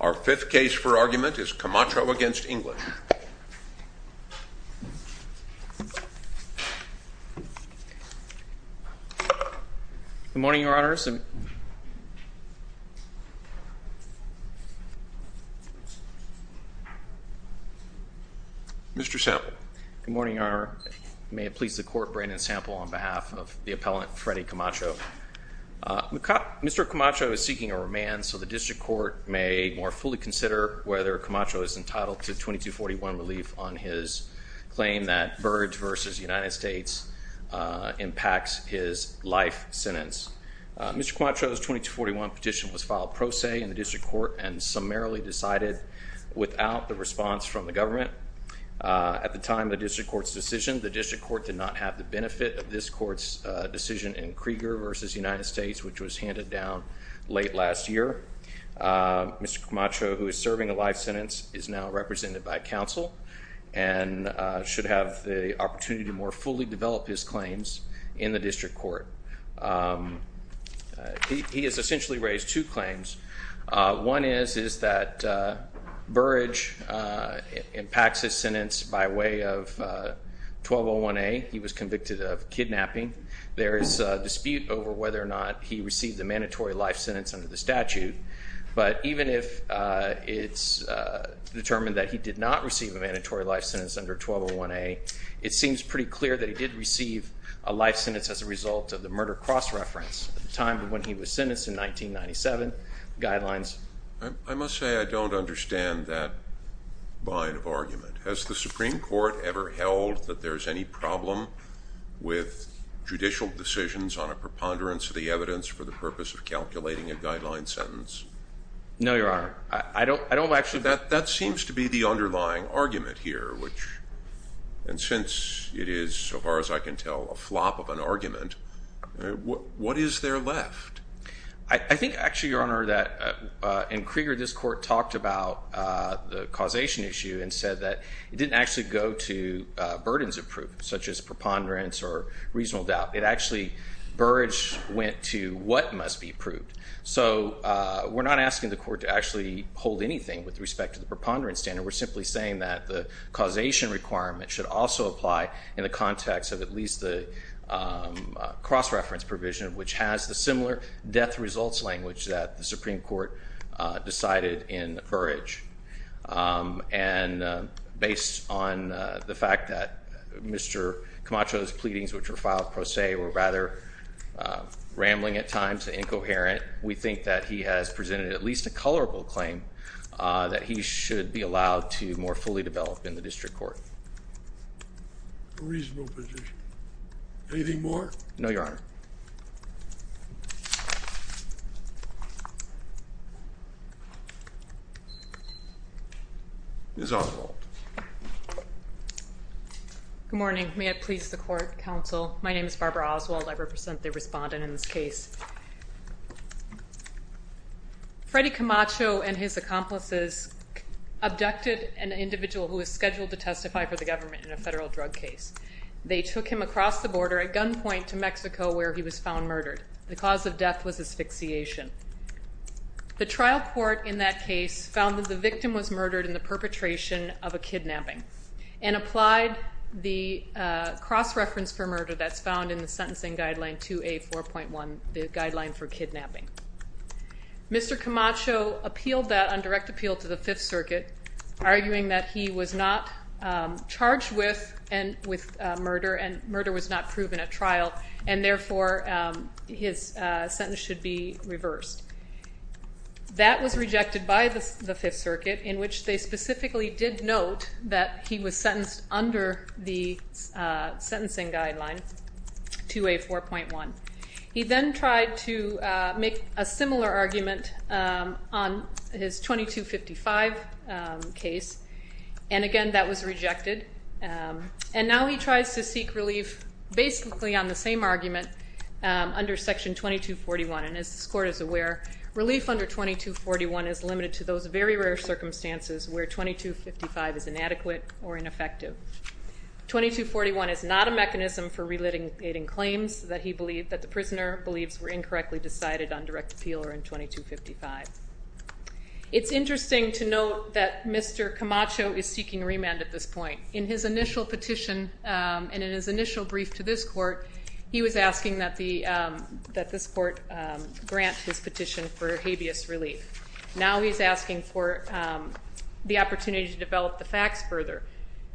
Our fifth case for argument is Camacho v. English. Good morning, Your Honors. Mr. Sample. Good morning, Your Honor. May it please the Court, Brandon Sample on behalf of the appellant, Freddie Camacho. Mr. Camacho is seeking a remand, so the District Court may more fully consider whether Camacho is entitled to 2241 relief on his claim that Verge v. United States impacts his life sentence. Mr. Camacho's 2241 petition was filed pro se in the District Court and summarily decided without the response from the government. At the time of the District Court's decision, the District Court did not have the benefit of this Court's decision in Krieger v. United States, which was handed down late last year. Mr. Camacho, who is serving a life sentence, is now represented by counsel and should have the opportunity to more fully develop his claims in the District Court. He has essentially raised two claims. One is that Verge impacts his sentence by way of 1201A. He was convicted of kidnapping. There is a dispute over whether or not he received a mandatory life sentence under the statute, but even if it's determined that he did not receive a mandatory life sentence under 1201A, it seems pretty clear that he did receive a life sentence as a result of the murder cross-reference at the time when he was sentenced in 1997. Guidelines. I must say I don't understand that line of argument. Has the Supreme Court ever held that there is any problem with judicial decisions on a preponderance of the evidence for the purpose of calculating a guideline sentence? No, Your Honor. That seems to be the underlying argument here, and since it is, so far as I can tell, a flop of an argument, what is there left? I think actually, Your Honor, that in Krieger this Court talked about the causation issue and said that it didn't actually go to burdens of proof, such as preponderance or reasonable doubt. It actually, Verge went to what must be proved. So we're not asking the Court to actually hold anything with respect to the preponderance standard. We're simply saying that the causation requirement should also apply in the context of at least the cross-reference provision, which has the similar death results language that the Supreme Court decided in Verge. And based on the fact that Mr. Camacho's pleadings, which were filed pro se, were rather rambling at times and incoherent, we think that he has presented at least a colorable claim that he should be allowed to more fully develop in the district court. A reasonable position. Anything more? No, Your Honor. Ms. Oswald. Good morning. May it please the Court, Counsel. My name is Barbara Oswald. I represent the respondent in this case. Freddy Camacho and his accomplices abducted an individual who was scheduled to testify for the government in a federal drug case. They took him across the border at gunpoint to Mexico, where he was found murdered. The cause of death was asphyxiation. The trial court in that case found that the victim was murdered in the perpetration of a kidnapping and applied the cross-reference for murder that's found in the sentencing guideline 2A4.1, the guideline for kidnapping. Mr. Camacho appealed that on direct appeal to the Fifth Circuit, arguing that he was not charged with murder and murder was not proven at trial, and therefore his sentence should be reversed. That was rejected by the Fifth Circuit, in which they specifically did note that he was sentenced under the sentencing guideline 2A4.1. He then tried to make a similar argument on his 2255 case, and again that was rejected. And now he tries to seek relief basically on the same argument under Section 2241. And as this court is aware, relief under 2241 is limited to those very rare circumstances where 2255 is inadequate or ineffective. 2241 is not a mechanism for relitigating claims that the prisoner believes were incorrectly decided on direct appeal or in 2255. It's interesting to note that Mr. Camacho is seeking remand at this point. In his initial petition and in his initial brief to this court, he was asking that this court grant his petition for habeas relief. Now he's asking for the opportunity to develop the facts further.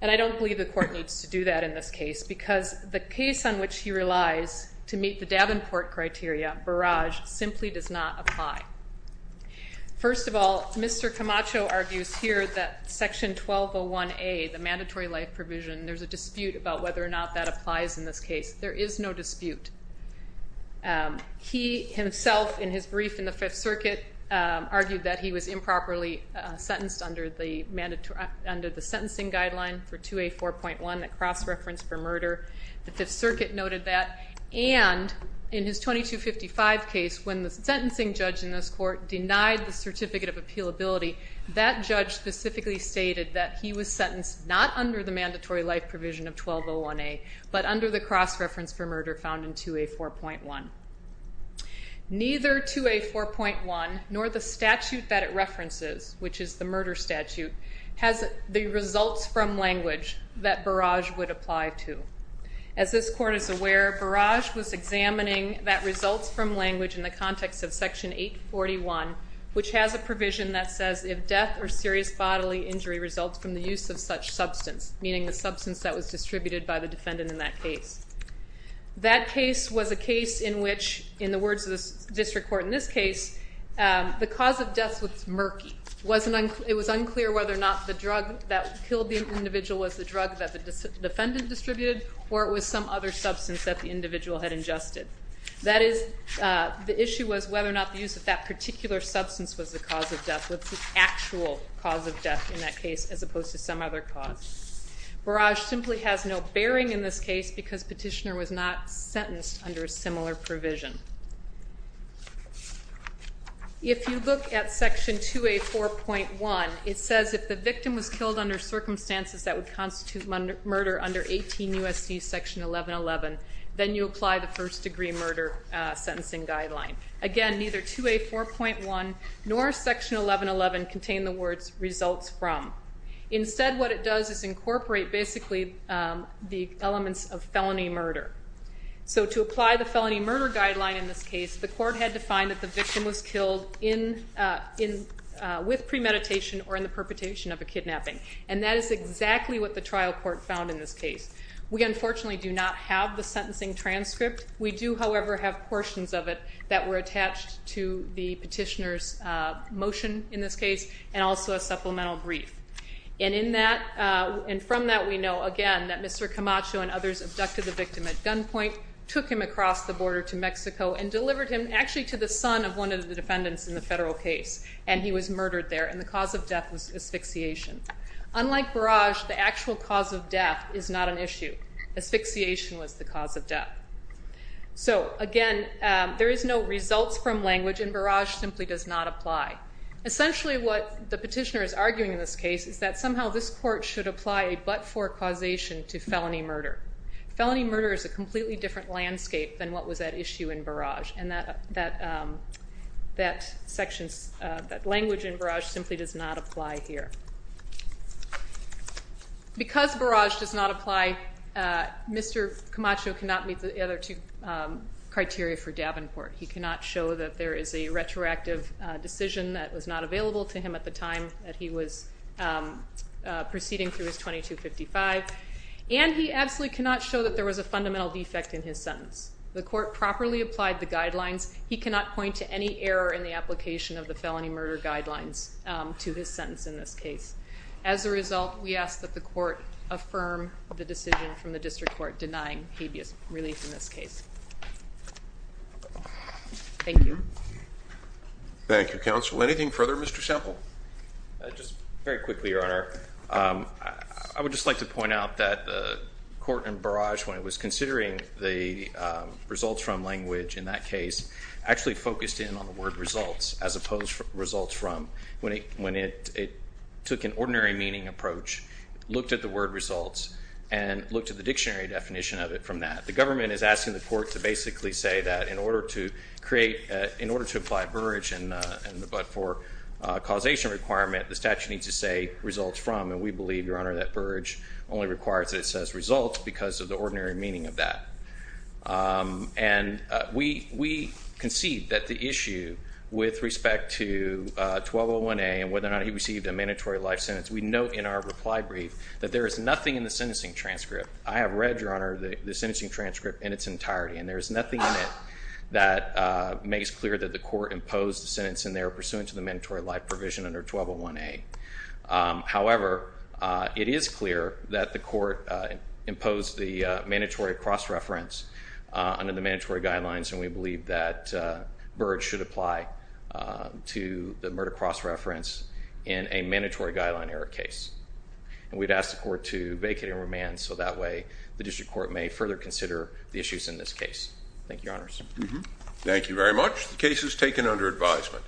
And I don't believe the court needs to do that in this case because the case on which he relies to meet the Davenport criteria, barrage, simply does not apply. First of all, Mr. Camacho argues here that Section 1201A, the mandatory life provision, there's a dispute about whether or not that applies in this case. There is no dispute. He himself, in his brief in the Fifth Circuit, argued that he was improperly sentenced under the sentencing guideline for 2A4.1, that cross-reference for murder. The Fifth Circuit noted that. And in his 2255 case, when the sentencing judge in this court denied the certificate of appealability, that judge specifically stated that he was sentenced not under the mandatory life provision of 1201A, but under the cross-reference for murder found in 2A4.1. Neither 2A4.1 nor the statute that it references, which is the murder statute, has the results from language that barrage would apply to. As this court is aware, barrage was examining that results from language in the context of Section 841, which has a provision that says if death or serious bodily injury results from the use of such substance, meaning the substance that was distributed by the defendant in that case. That case was a case in which, in the words of the district court in this case, the cause of death was murky. It was unclear whether or not the drug that killed the individual was the drug that the defendant distributed or it was some other substance that the individual had ingested. That is, the issue was whether or not the use of that particular substance was the cause of death. What's the actual cause of death in that case as opposed to some other cause? Barrage simply has no bearing in this case because Petitioner was not sentenced under a similar provision. If you look at Section 2A4.1, it says if the victim was killed under circumstances that would constitute murder under 18 U.S.C. Section 1111, then you apply the first degree murder sentencing guideline. Again, neither 2A4.1 nor Section 1111 contain the words results from. Instead, what it does is incorporate basically the elements of felony murder. To apply the felony murder guideline in this case, the court had to find that the victim was killed with premeditation or in the perpetration of a kidnapping. That is exactly what the trial court found in this case. We unfortunately do not have the sentencing transcript. We do, however, have portions of it that were attached to the Petitioner's motion in this case and also a supplemental brief. From that, we know again that Mr. Camacho and others abducted the victim at gunpoint, took him across the border to Mexico, and delivered him actually to the son of one of the defendants in the federal case. He was murdered there, and the cause of death was asphyxiation. Unlike Barrage, the actual cause of death is not an issue. Asphyxiation was the cause of death. Again, there is no results from language, and Barrage simply does not apply. Essentially, what the Petitioner is arguing in this case is that somehow this court should apply a but-for causation to felony murder. Felony murder is a completely different landscape than what was at issue in Barrage, and that language in Barrage simply does not apply here. Because Barrage does not apply, Mr. Camacho cannot meet the other two criteria for Davenport. He cannot show that there is a retroactive decision that was not available to him at the time that he was proceeding through his 2255, and he absolutely cannot show that there was a fundamental defect in his sentence. The court properly applied the guidelines. He cannot point to any error in the application of the felony murder guidelines to his sentence in this case. As a result, we ask that the court affirm the decision from the district court denying habeas relief in this case. Thank you. Thank you, Counsel. Anything further, Mr. Semple? Just very quickly, Your Honor. I would just like to point out that the court in Barrage, when it was considering the results from language in that case, actually focused in on the word results as opposed to results from. When it took an ordinary meaning approach, looked at the word results, and looked at the dictionary definition of it from that. The government is asking the court to basically say that in order to create, in order to apply Barrage, but for causation requirement, the statute needs to say results from, and we believe, Your Honor, that Barrage only requires that it says results because of the ordinary meaning of that. And we concede that the issue with respect to 1201A and whether or not he received a mandatory life sentence, we note in our reply brief that there is nothing in the sentencing transcript. I have read, Your Honor, the sentencing transcript in its entirety, and there is nothing in it that makes clear that the court imposed the sentence in there pursuant to the mandatory life provision under 1201A. However, it is clear that the court imposed the mandatory cross-reference under the mandatory guidelines, and we believe that Barrage should apply to the murder cross-reference in a mandatory guideline error case. And we'd ask the court to vacate and remand so that way the district court may further consider the issues in this case. Thank you, Your Honors. Thank you very much. The case is taken under advisement.